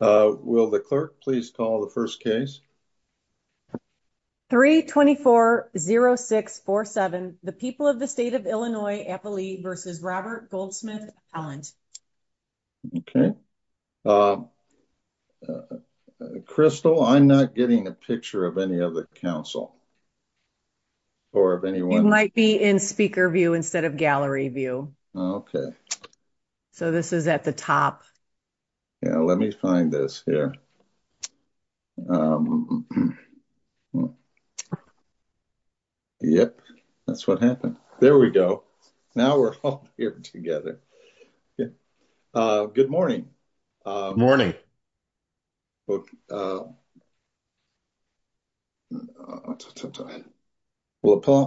Will the clerk please call the first case? 3-24-06-47 The People of the State of Illinois-Appalee v. Robert Gold-Smith-Allen. Okay. Crystal, I'm not getting a picture of any of the council or of anyone. It might be in speaker view instead of gallery view. Okay. So this is at the top. Yeah, let me find this here. Yep, that's what happened. There we go. Now we're all here together. Good morning. Will the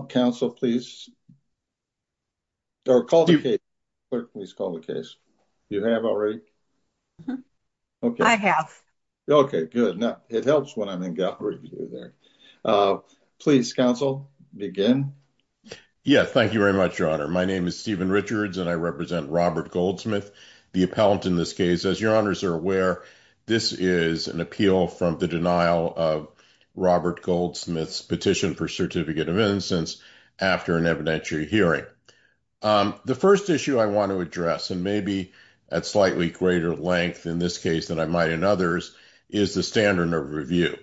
council please call the case? You have already? Mm-hmm. Okay. I have. Okay, good. Now, it helps when I'm in gallery view there. Please, council, begin. Yeah, thank you very much, Your Honor. My name is Stephen Richards, and I represent Robert Gold-Smith, the appellant in this case. As Your Honors are aware, this is an appeal from the denial of Robert Gold-Smith's petition for certificate of innocence after an evidentiary hearing. The first issue I want to address, and maybe at slightly greater length in this case than I might in others, is the standard of review.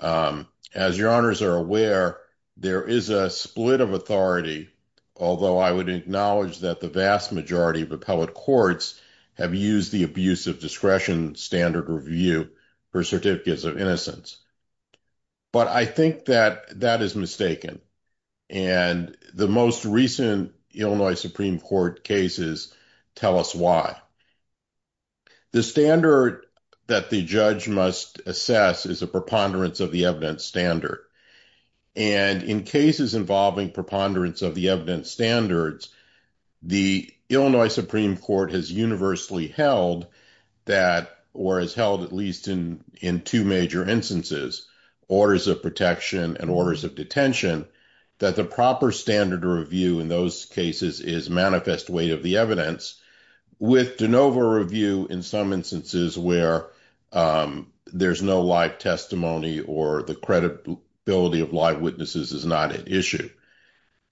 As Your Honors are aware, there is a split of authority, although I would acknowledge that the vast majority of appellate courts have used the abuse of discretion standard review for certificates of innocence. But I think that that is mistaken. And the most recent Illinois Supreme Court cases tell us why. The standard that the judge must assess is a preponderance of the evidence standard. And in cases involving preponderance of the evidence standards, the Illinois Supreme Court has universally held that, or has held at least in two major instances, orders of protection and orders of detention, that the proper standard of review in those cases is manifest weight of the evidence, with de novo review in some instances where there's no live testimony or the credibility of live witnesses is not at issue.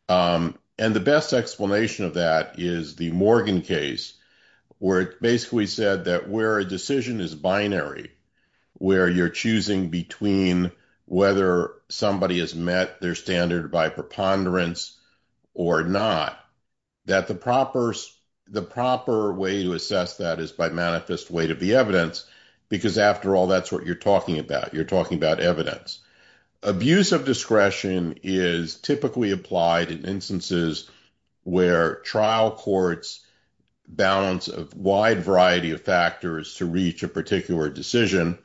And the best explanation of that is the Morgan case, where it basically said that where a met their standard by preponderance or not, that the proper way to assess that is by manifest weight of the evidence, because after all, that's what you're talking about. You're talking about evidence. Abuse of discretion is typically applied in instances where trial courts balance a wide variety of factors to reach a particular decision.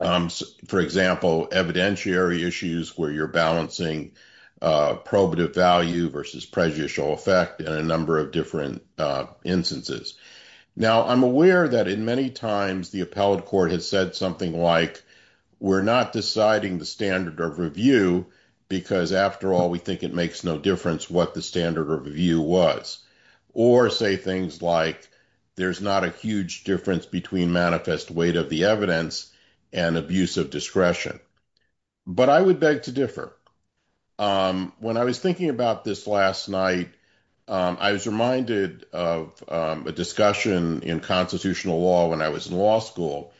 For example, evidentiary issues where you're balancing probative value versus prejudicial effect in a number of different instances. Now, I'm aware that in many times, the appellate court has said something like, we're not deciding the standard of review, because after all, we think it makes no difference what the standard of review was, or say things like, there's not a huge difference between manifest weight of the evidence and abuse of discretion. But I would beg to differ. When I was thinking about this last night, I was reminded of a discussion in constitutional law when I was in law school,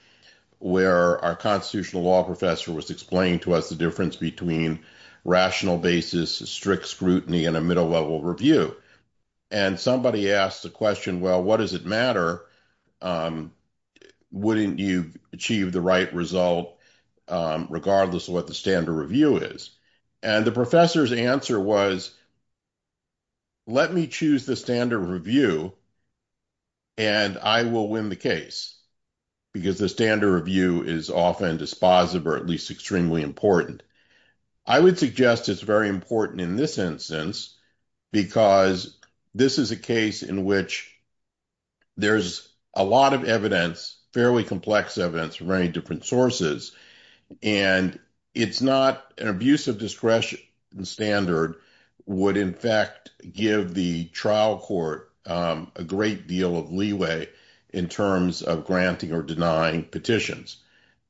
where our constitutional law professor was explaining to us the difference between rational basis, strict scrutiny, and a middle level review. And somebody asked the question, well, what does it matter? Wouldn't you achieve the right result, regardless of what the standard review is? And the professor's answer was, let me choose the standard review. And I will win the case, because the standard review is often dispositive, or at least extremely important. I would suggest it's very important in this instance, because this is a case in which there's a lot of evidence, fairly complex evidence from many different sources. And it's not an abuse of discretion standard would, in fact, give the trial court a great deal of leeway in terms of granting or denying petitions.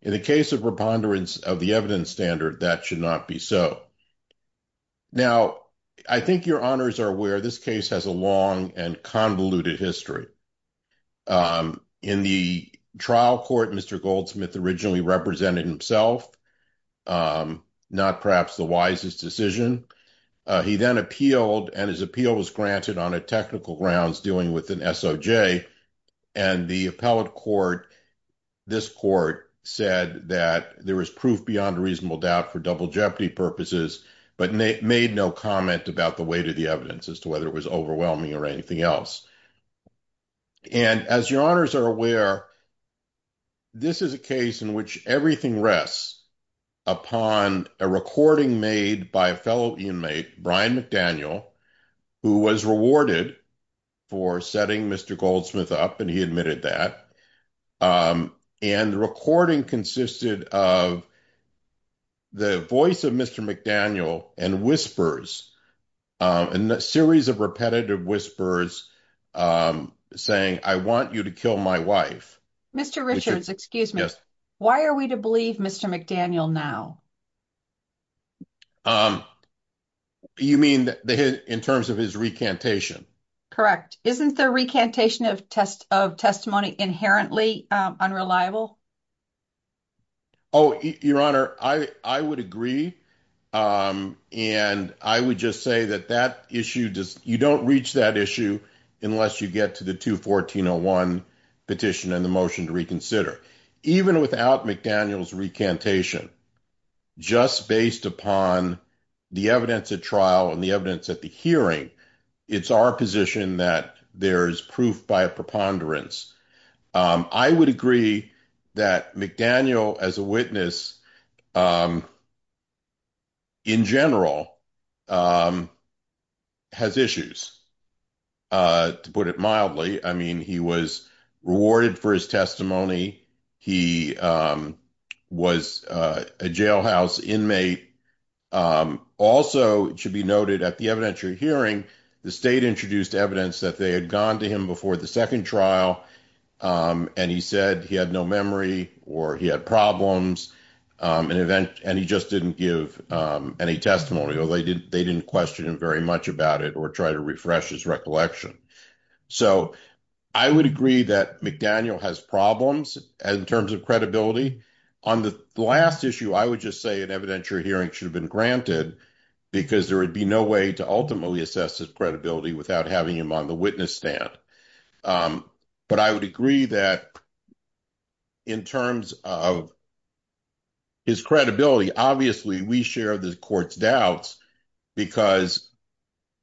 In the case of preponderance of the evidence standard, that should not be so. Now, I think your honors are aware this case has a long and convoluted history. In the trial court, Mr. Goldsmith originally represented himself, not perhaps the wisest decision. He then appealed, and his appeal was granted on a technical grounds dealing with an SOJ. And the appellate court, this court, said that there was proof beyond reasonable doubt for double jeopardy purposes, but made no comment about the weight of the evidence as to whether it was overwhelming or anything else. And as your honors are aware, this is a case in which everything rests upon a recording made by a fellow inmate, Brian McDaniel, who was rewarded for setting Mr. Goldsmith up, and he admitted that. And the recording consisted of the voice of Mr. McDaniel and whispers, a series of repetitive whispers, saying, I want you to kill my wife. Mr. Richards, excuse me, why are we to believe Mr. McDaniel now? You mean in terms of his recantation? Correct. Isn't the recantation of testimony inherently unreliable? Oh, your honor, I would agree. And I would just say that that issue, you don't reach that issue unless you get to the 214-01 petition and the motion to reconsider. Even without McDaniel's recantation, just based upon the evidence at trial and the evidence at the hearing, it's our position that there is proof by a preponderance. I would agree that McDaniel as a witness in general has issues, to put it mildly. I mean, he was rewarded for his testimony. He was a jailhouse inmate. Also, it should be noted at the evidentiary hearing, the state introduced evidence that they had gone to him before the second trial and he said he had no memory or he had problems and he just didn't give any testimony or they didn't question him very much about it or try to refresh his recollection. So I would agree that McDaniel has problems in terms of credibility. On the last issue, I would just say an evidentiary hearing should have been granted because there would be no way to ultimately assess his credibility without having him on the witness stand. But I would agree that in terms of his credibility, obviously we share the court's doubts because,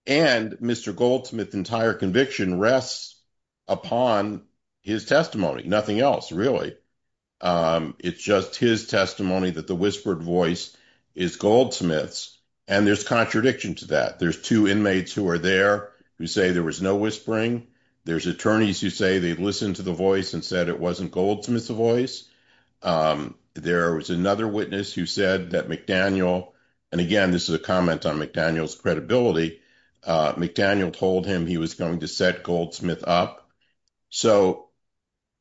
and Mr. Goldsmith's entire conviction rests upon his testimony, nothing else really. It's just his testimony that the whispered voice is Goldsmith's and there's contradiction to that. There's two inmates who are there who say there was no whispering. There's attorneys who say they listened to the voice and said it wasn't Goldsmith's voice. There was another witness who said that McDaniel, and again, this is a comment on McDaniel's credibility, McDaniel told him he was going to set Goldsmith up. So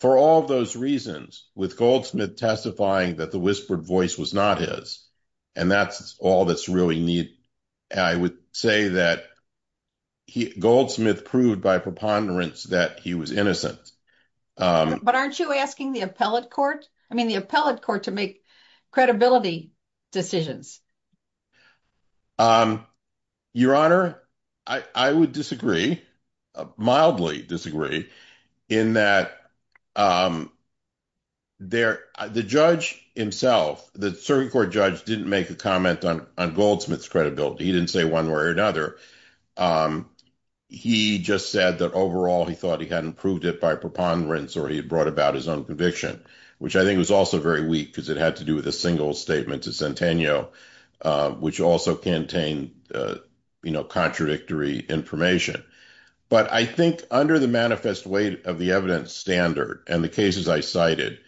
for all of those reasons, with Goldsmith testifying that the whispered voice was not his, and that's all that's really needed, I would say that Goldsmith proved by preponderance that he was innocent. But aren't you asking the appellate court, I mean, the appellate court to make credibility decisions? Your Honor, I would disagree, mildly disagree, in that the judge himself, the circuit court judge didn't make a comment on Goldsmith's credibility. He didn't say one way or another. He just said that overall, he thought he hadn't proved it by preponderance or he had brought about his own conviction, which I think was also very weak because it had to do with a single statement to Centennial. Which also contained contradictory information. But I think under the manifest weight of the evidence standard and the cases I cited,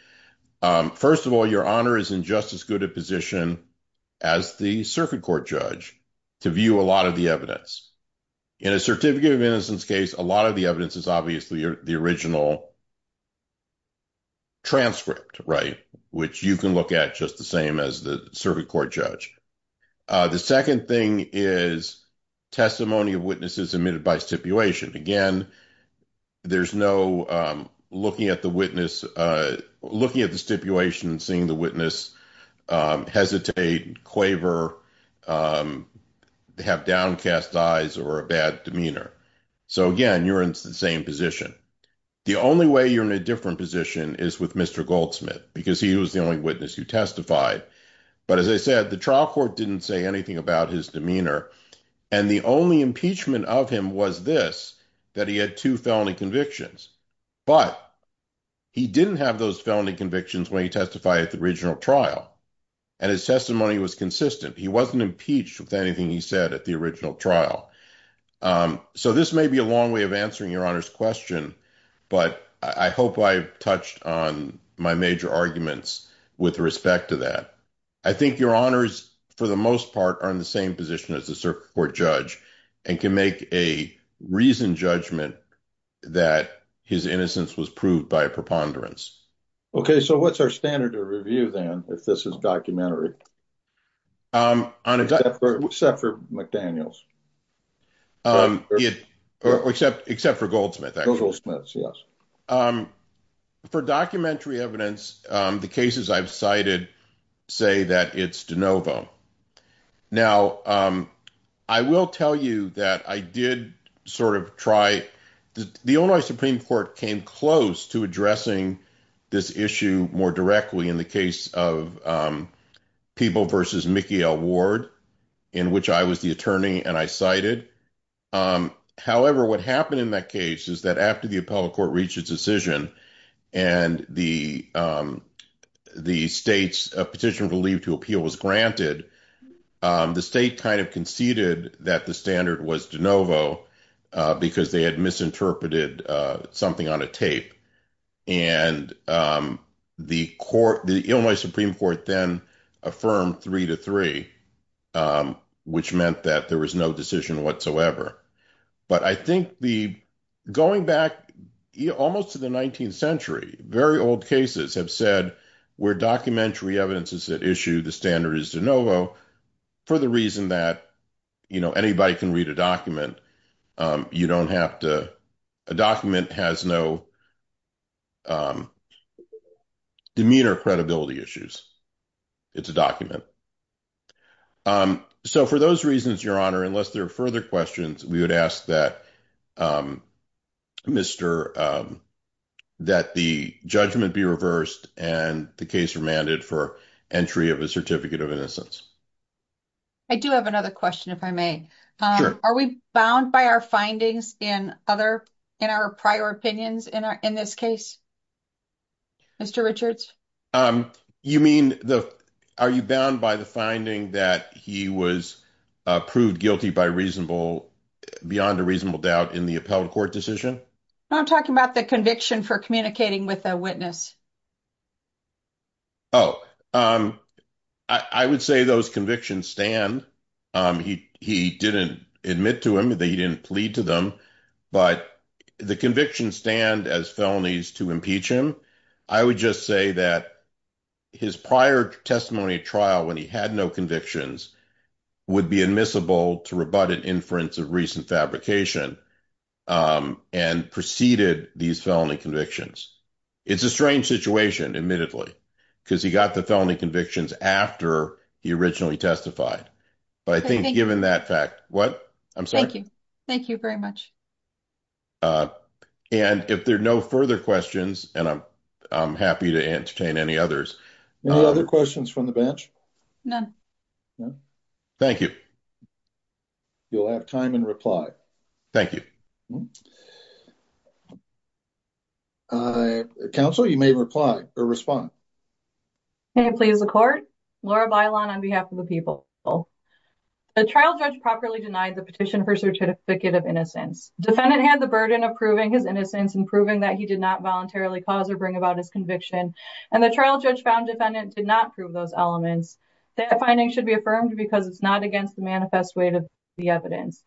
first of all, Your Honor is in just as good a position as the circuit court judge to view a lot of the evidence. In a certificate of innocence case, a lot of the evidence is obviously the original transcript, right? Which you can look at just the same as the circuit court judge. The second thing is testimony of witnesses admitted by stipulation. Again, there's no looking at the witness, looking at the stipulation and seeing the witness hesitate, quaver, have downcast eyes or a bad demeanor. So again, you're in the same position. The only way you're in a different position is with Mr. Goldsmith because he was the only witness who testified. But as I said, the trial court didn't say anything about his demeanor. And the only impeachment of him was this, that he had two felony convictions. But he didn't have those felony convictions when he testified at the original trial. And his testimony was consistent. He wasn't impeached with anything he said at the original trial. So this may be a long way of answering your honor's question, but I hope I've touched on my major arguments with respect to that. I think your honors, for the most part, are in the same position as the circuit court judge and can make a reasoned judgment that his innocence was proved by a preponderance. Okay, so what's our standard of review then, if this is documentary? Except for McDaniels. Except for Goldsmith, actually. Goldsmith, yes. For documentary evidence, the cases I've cited say that it's DeNovo. Now, I will tell you that I did sort of try, the Illinois Supreme Court came close to addressing this issue more directly in the case of People v. Mickey L. Ward, in which I was the attorney and I cited. However, what happened in that case is that after the appellate court reached its decision and the state's petition to leave to appeal was granted, the state kind of conceded that the standard was DeNovo because they had misinterpreted something on a tape. And the court, the Illinois Supreme Court then affirmed three to three, which meant that there was no decision whatsoever. But I think the going back almost to the 19th century, very old cases have said, where documentary evidence is at issue, the standard is DeNovo for the reason that, you know, anybody can read a document. You don't have to, a document has no demeanor or credibility issues. It's a document. So for those reasons, Your Honor, unless there are further questions, we would ask that that the judgment be reversed and the case remanded for entry of a certificate of innocence. I do have another question, if I may. Are we bound by our findings in our prior opinions in this case, Mr. Richards? You mean, are you bound by the finding that he was proved guilty by reasonable, beyond a reasonable doubt in the appellate court decision? I'm talking about the conviction for communicating with a witness. Oh, I would say those convictions stand. He didn't admit to him that he didn't plead to them, but the conviction stand as felonies to impeach him. I would just say that his prior testimony trial when he had no convictions would be admissible to rebut an inference of recent fabrication and preceded these felony convictions. It's a strange situation, admittedly, because he got the felony convictions after he originally testified. But I think given that fact, what? I'm sorry? Thank you very much. And if there are no further questions, and I'm happy to entertain any others. Any other questions from the bench? None. Thank you. You'll have time and reply. Thank you. Counsel, you may reply or respond. Can I please accord? Laura Bailon on behalf of the people. The trial judge properly denied the petition for certificate of innocence. Defendant had the burden of proving his innocence and proving that he did not voluntarily cause or bring about his conviction. And the trial judge found defendant did not prove those elements. That finding should be affirmed because it's not against the manifest weight of the evidence.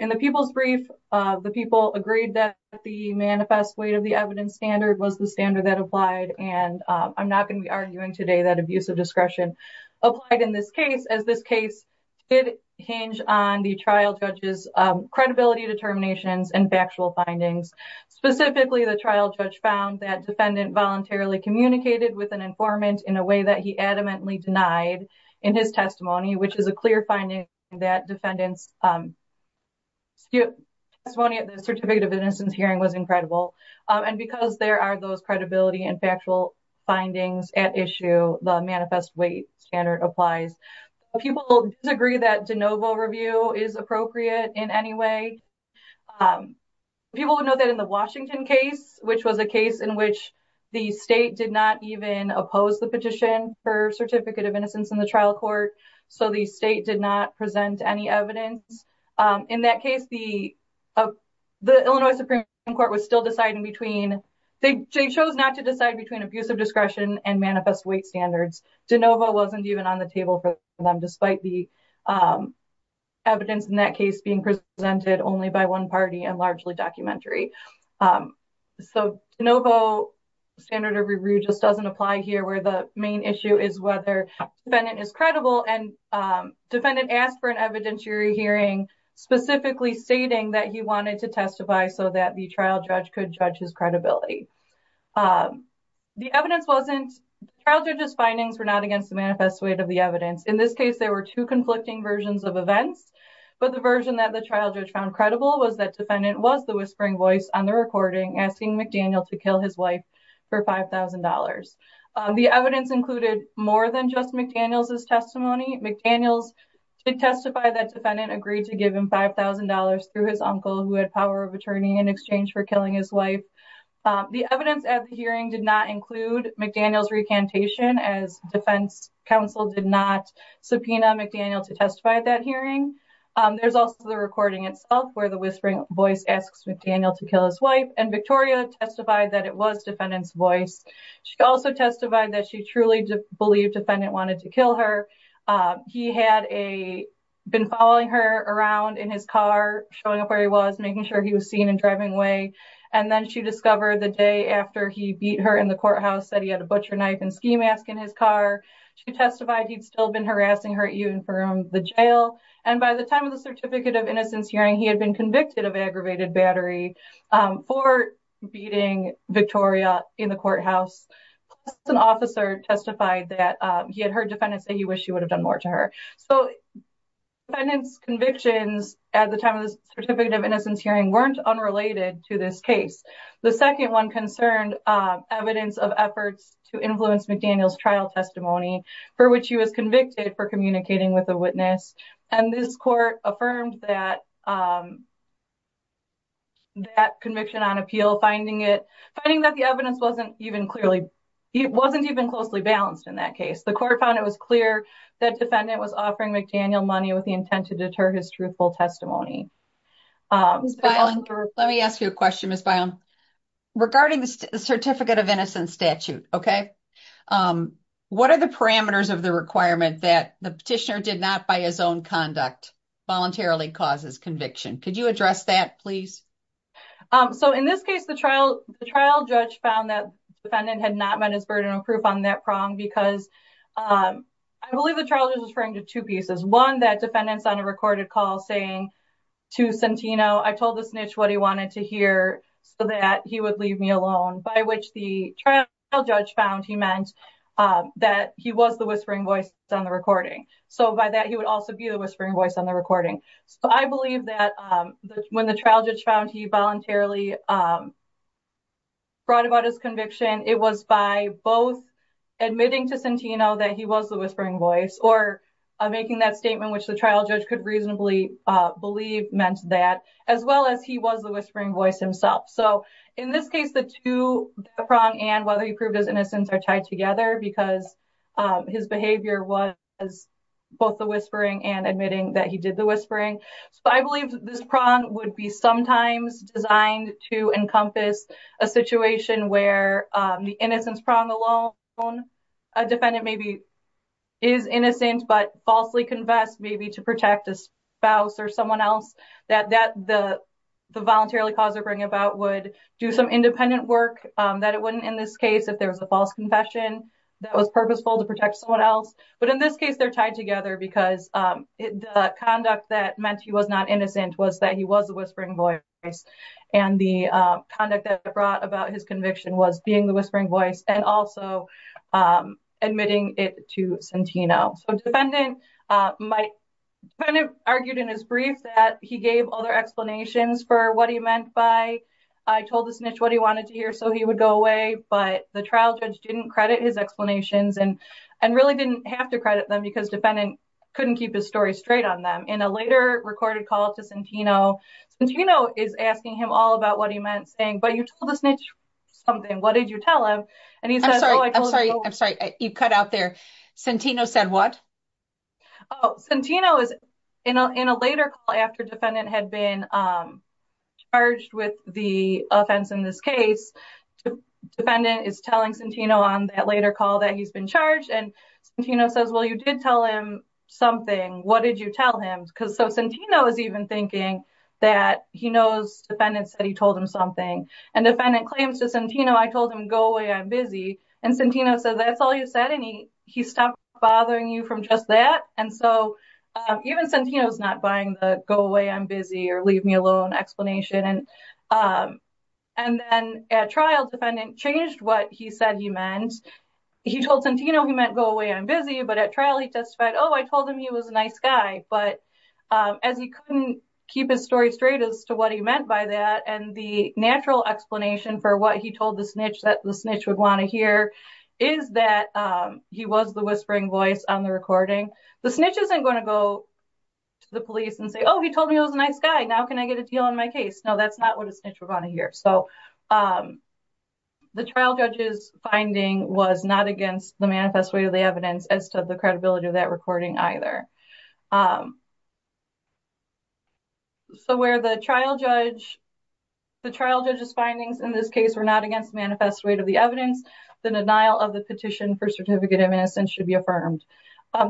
In the people's brief, the people agreed that the manifest weight of the evidence standard was the standard that applied. And I'm not going to be arguing today that abuse of discretion applied in this case, as this case did hinge on the trial judge's credibility determinations and factual findings. Specifically, the trial judge found that defendant voluntarily communicated with an informant in a way that he adamantly denied in his testimony, which is a clear finding that defendants. Testimony at the certificate of innocence hearing was incredible. And because there are those credibility and factual findings at issue, the manifest weight standard applies. People disagree that de novo review is appropriate in any way. People would know that in the Washington case, which was a case in which the state did not even oppose the petition for certificate of innocence in the trial court. So the state did not present any evidence. In that case, the Illinois Supreme Court was still deciding between, they chose not to decide between abuse of discretion and manifest weight standards. De novo wasn't even on the table for them, despite the evidence in that case being presented only by one party and largely documentary. So de novo standard of review just doesn't apply here where the main issue is whether defendant is credible and defendant asked for an evidentiary hearing, specifically stating that he wanted to testify so that the trial judge could judge his credibility. The evidence wasn't, the trial judge's findings were not against the manifest weight of the evidence. In this case, there were two conflicting versions of events, but the version that the trial judge found credible was that defendant was the whispering voice on the recording asking McDaniel to kill his wife for $5,000. The evidence included more than just McDaniel's testimony. McDaniel's did testify that defendant agreed to give him $5,000 through his uncle who had power of attorney in exchange for killing his wife. The evidence at the hearing did not include McDaniel's recantation as defense council did not subpoena McDaniel to testify at that hearing. There's also the recording itself where the whispering voice asks McDaniel to kill his wife and Victoria testified that it was defendant's voice. She also testified that she truly believed defendant wanted to kill her. He had been following her around in his car, showing up where he was, making sure he was driving away. And then she discovered the day after he beat her in the courthouse, that he had a butcher knife and ski mask in his car. She testified he'd still been harassing her even from the jail. And by the time of the certificate of innocence hearing, he had been convicted of aggravated battery for beating Victoria in the courthouse. An officer testified that he had heard defendant say he wished he would have done more to her. So defendant's convictions at the time of the case. The second one concerned evidence of efforts to influence McDaniel's trial testimony for which he was convicted for communicating with a witness. And this court affirmed that conviction on appeal, finding that the evidence wasn't even closely balanced in that case. The court found it was clear that defendant was offering McDaniel money with the intent to deter his truthful testimony. Let me ask you a question regarding the certificate of innocence statute. What are the parameters of the requirement that the petitioner did not by his own conduct voluntarily causes conviction? Could you address that please? So in this case, the trial judge found that defendant had not met his burden of proof on because I believe the trial judge was referring to two pieces. One, that defendant's on a recorded call saying to Santino, I told the snitch what he wanted to hear so that he would leave me alone, by which the trial judge found he meant that he was the whispering voice on the recording. So by that, he would also be the whispering voice on the recording. So I believe that when the trial judge found he voluntarily brought about his conviction, it was by both admitting to Santino that he was the whispering voice or making that statement, which the trial judge could reasonably believe meant that as well as he was the whispering voice himself. So in this case, the two prong and whether he proved his innocence are tied together because his behavior was both the whispering and admitting that he did the whispering. So I believe this prong would be sometimes designed to encompass a situation where the innocence prong alone, a defendant maybe is innocent, but falsely confessed maybe to protect a spouse or someone else that the voluntarily cause or bring about would do some independent work that it wouldn't in this case, if there was a false confession that was purposeful to protect someone else. But in this case, they're tied together because the conduct that meant he was not innocent was that he was the whispering voice. And the conduct that brought about his conviction was being the whispering voice and also admitting it to Santino. So defendant argued in his brief that he gave other explanations for what he meant by, I told the snitch what he wanted to hear so he would go away. But the trial judge didn't credit his explanations and really didn't have to credit them because defendant couldn't keep his story straight on them. In a later recorded call to Santino, Santino is asking him all about what he meant saying, but you told the snitch something. What did you tell him? And he said, I'm sorry, I'm sorry, I'm sorry. You cut out there. Santino said what? Oh, Santino is in a later call after defendant had been charged with the offense in this case. The defendant is telling Santino on that later call that he's been charged and Santino says, well, you did tell him something. What did you tell him? Because so Santino is even thinking that he knows defendant said he told him something and defendant claims to Santino, I told him, go away, I'm busy. And Santino said, that's all you said. And he, he stopped bothering you from just that. And so even Santino's not buying the go away, I'm busy or leave me alone explanation. And, and then at trial defendant changed what he said he meant. He told Santino, he meant go away, I'm busy. But at trial he testified, oh, I told him he was a nice guy, but as he couldn't keep his story straight as to what he meant by that. And the natural explanation for what he told the snitch that the snitch would want to hear is that he was the whispering voice on the recording. The snitch isn't going to go to the police and say, oh, he told me it was a nice guy. Now can I get a deal on my case? No, that's not what a snitch would want to hear. So the trial judge's finding was not against the manifest way of the evidence as to the credibility of that recording either. So where the trial judge, the trial judge's findings in this case were not against manifest way to the evidence, the denial of the petition for certificate of innocence should be affirmed.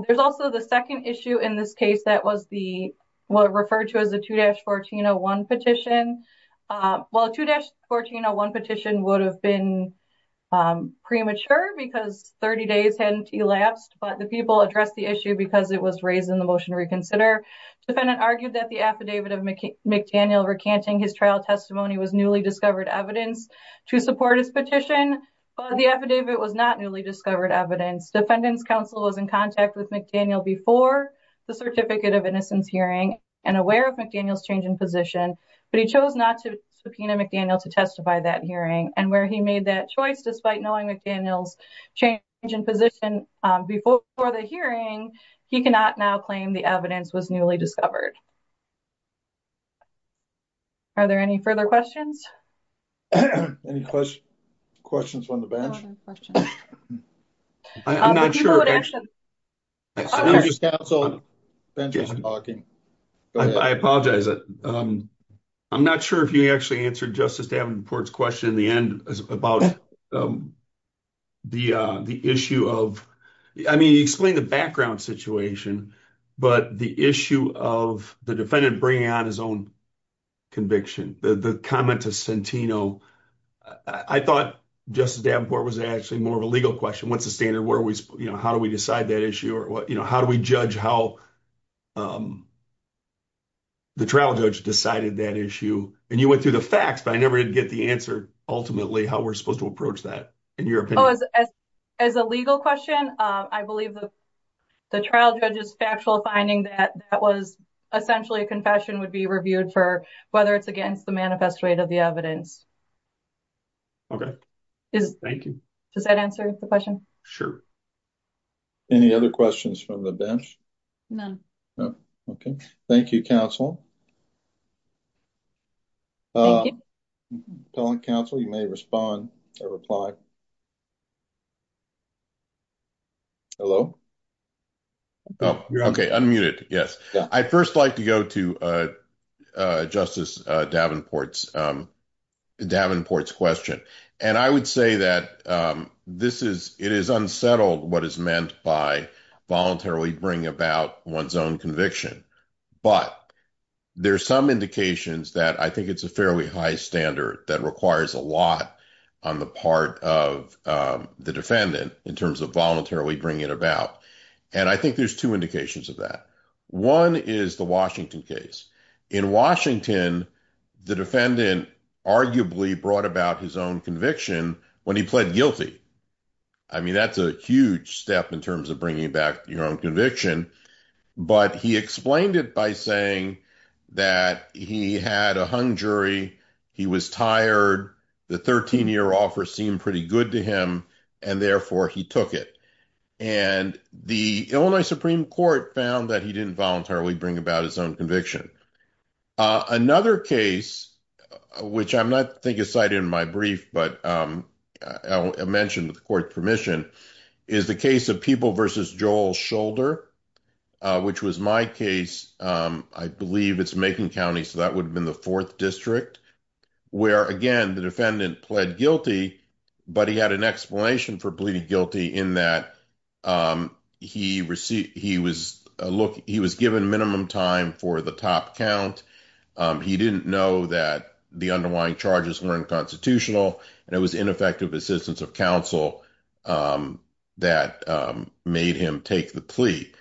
There's also the second issue in this case that was the, what referred to as the 2-1401 petition. Well, 2-1401 petition would have been premature because 30 days hadn't elapsed, but the people addressed the issue because it was raised in the motion to reconsider. Defendant argued that the affidavit of McDaniel recanting his trial testimony was newly discovered evidence to support his petition, but the affidavit was not newly discovered evidence. Defendant's counsel was in contact with McDaniel before the certificate of innocence hearing and aware of McDaniel's change in position, but he chose not to subpoena McDaniel to testify that hearing. And where he made that choice, despite knowing McDaniel's change in position before the hearing, he cannot now claim the evidence was newly discovered. Are there any further questions? Any questions from the bench? I'm not sure if you actually answered Justice Davenport's question in the end about the issue of, I mean, you explained the background situation, but the issue of the defendant bringing on his own conviction, the comment to Centino, I thought Justice Davenport was actually more of a legal question. What's the standard? How do we decide that issue? Or how do we judge how the trial judge decided that issue? And you went through the facts, but I never did get the answer ultimately how we're supposed to approach that, in your opinion. As a legal question, I believe the trial judge's factual finding that that was essentially a confession would be reviewed for whether it's against the manifest rate of the evidence. Okay, thank you. Does that answer the question? Sure. Any other questions from the bench? None. Okay, thank you, counsel. Appellant counsel, you may respond or reply. Hello? Okay, unmuted, yes. I'd first like to go to Justice Davenport's question. And I would say that it is unsettled what is meant by voluntarily bringing about one's own conviction. But there's some indications that I think it's a fairly high standard that requires a lot on the part of the defendant in terms of voluntarily bringing it about. And I think there's two indications of that. One is the Washington case. In Washington, the defendant arguably brought about his own conviction when he pled guilty. I mean, that's a huge step in terms of bringing back your own conviction. But he explained it by saying that he had a hung jury, he was tired, the 13-year offer seemed pretty good to him, and therefore he took it. And the Illinois Supreme Court found that he didn't voluntarily bring about his own conviction. Another case, which I'm not excited in my brief, but I'll mention with court permission, is the case of People v. Joel Shoulder, which was my case. I believe it's Macon County, so that would have been the fourth district, where, again, the defendant pled guilty, but he had an explanation for pleading guilty in that he was given minimum time for the top count. He didn't know that the underlying charges were unconstitutional, and it was ineffective assistance of counsel that made him take the plea.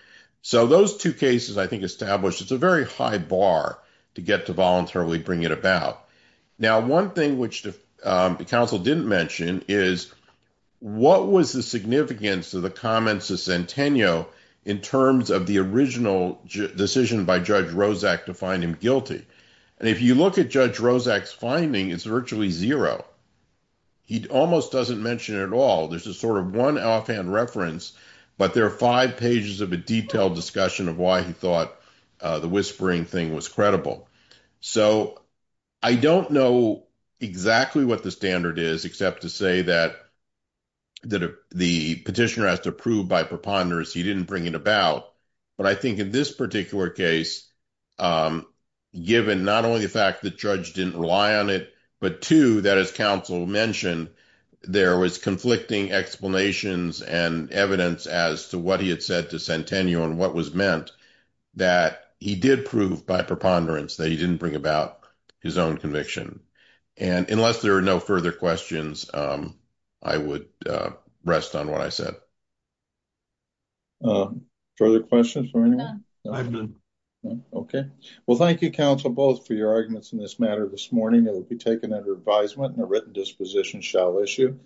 So those two cases, I think, establish it's a very high bar to get to voluntarily bring it about. Now, one thing which the counsel didn't mention is, what was the significance of the comments of Centennial in terms of the original decision by Judge Rozak to find him guilty? And if you look at Judge Rozak's finding, it's virtually zero. He almost doesn't mention it at all. There's a sort of one offhand reference, but there are five pages of a detailed discussion of why he thought the whispering thing was credible. So I don't know exactly what the standard is, except to say that the petitioner has to prove by preponderance he didn't bring it about. But I think in this particular case, given not only the fact the judge didn't rely on it, but two, that as counsel mentioned, there was conflicting explanations and evidence as to what he had said to Centennial and what was meant, that he did prove by preponderance that he didn't bring about his own conviction. And unless there are no further questions, I would rest on what I have. Okay. Well, thank you, counsel, both for your arguments in this matter this morning. It will be taken under advisement and a written disposition shall issue.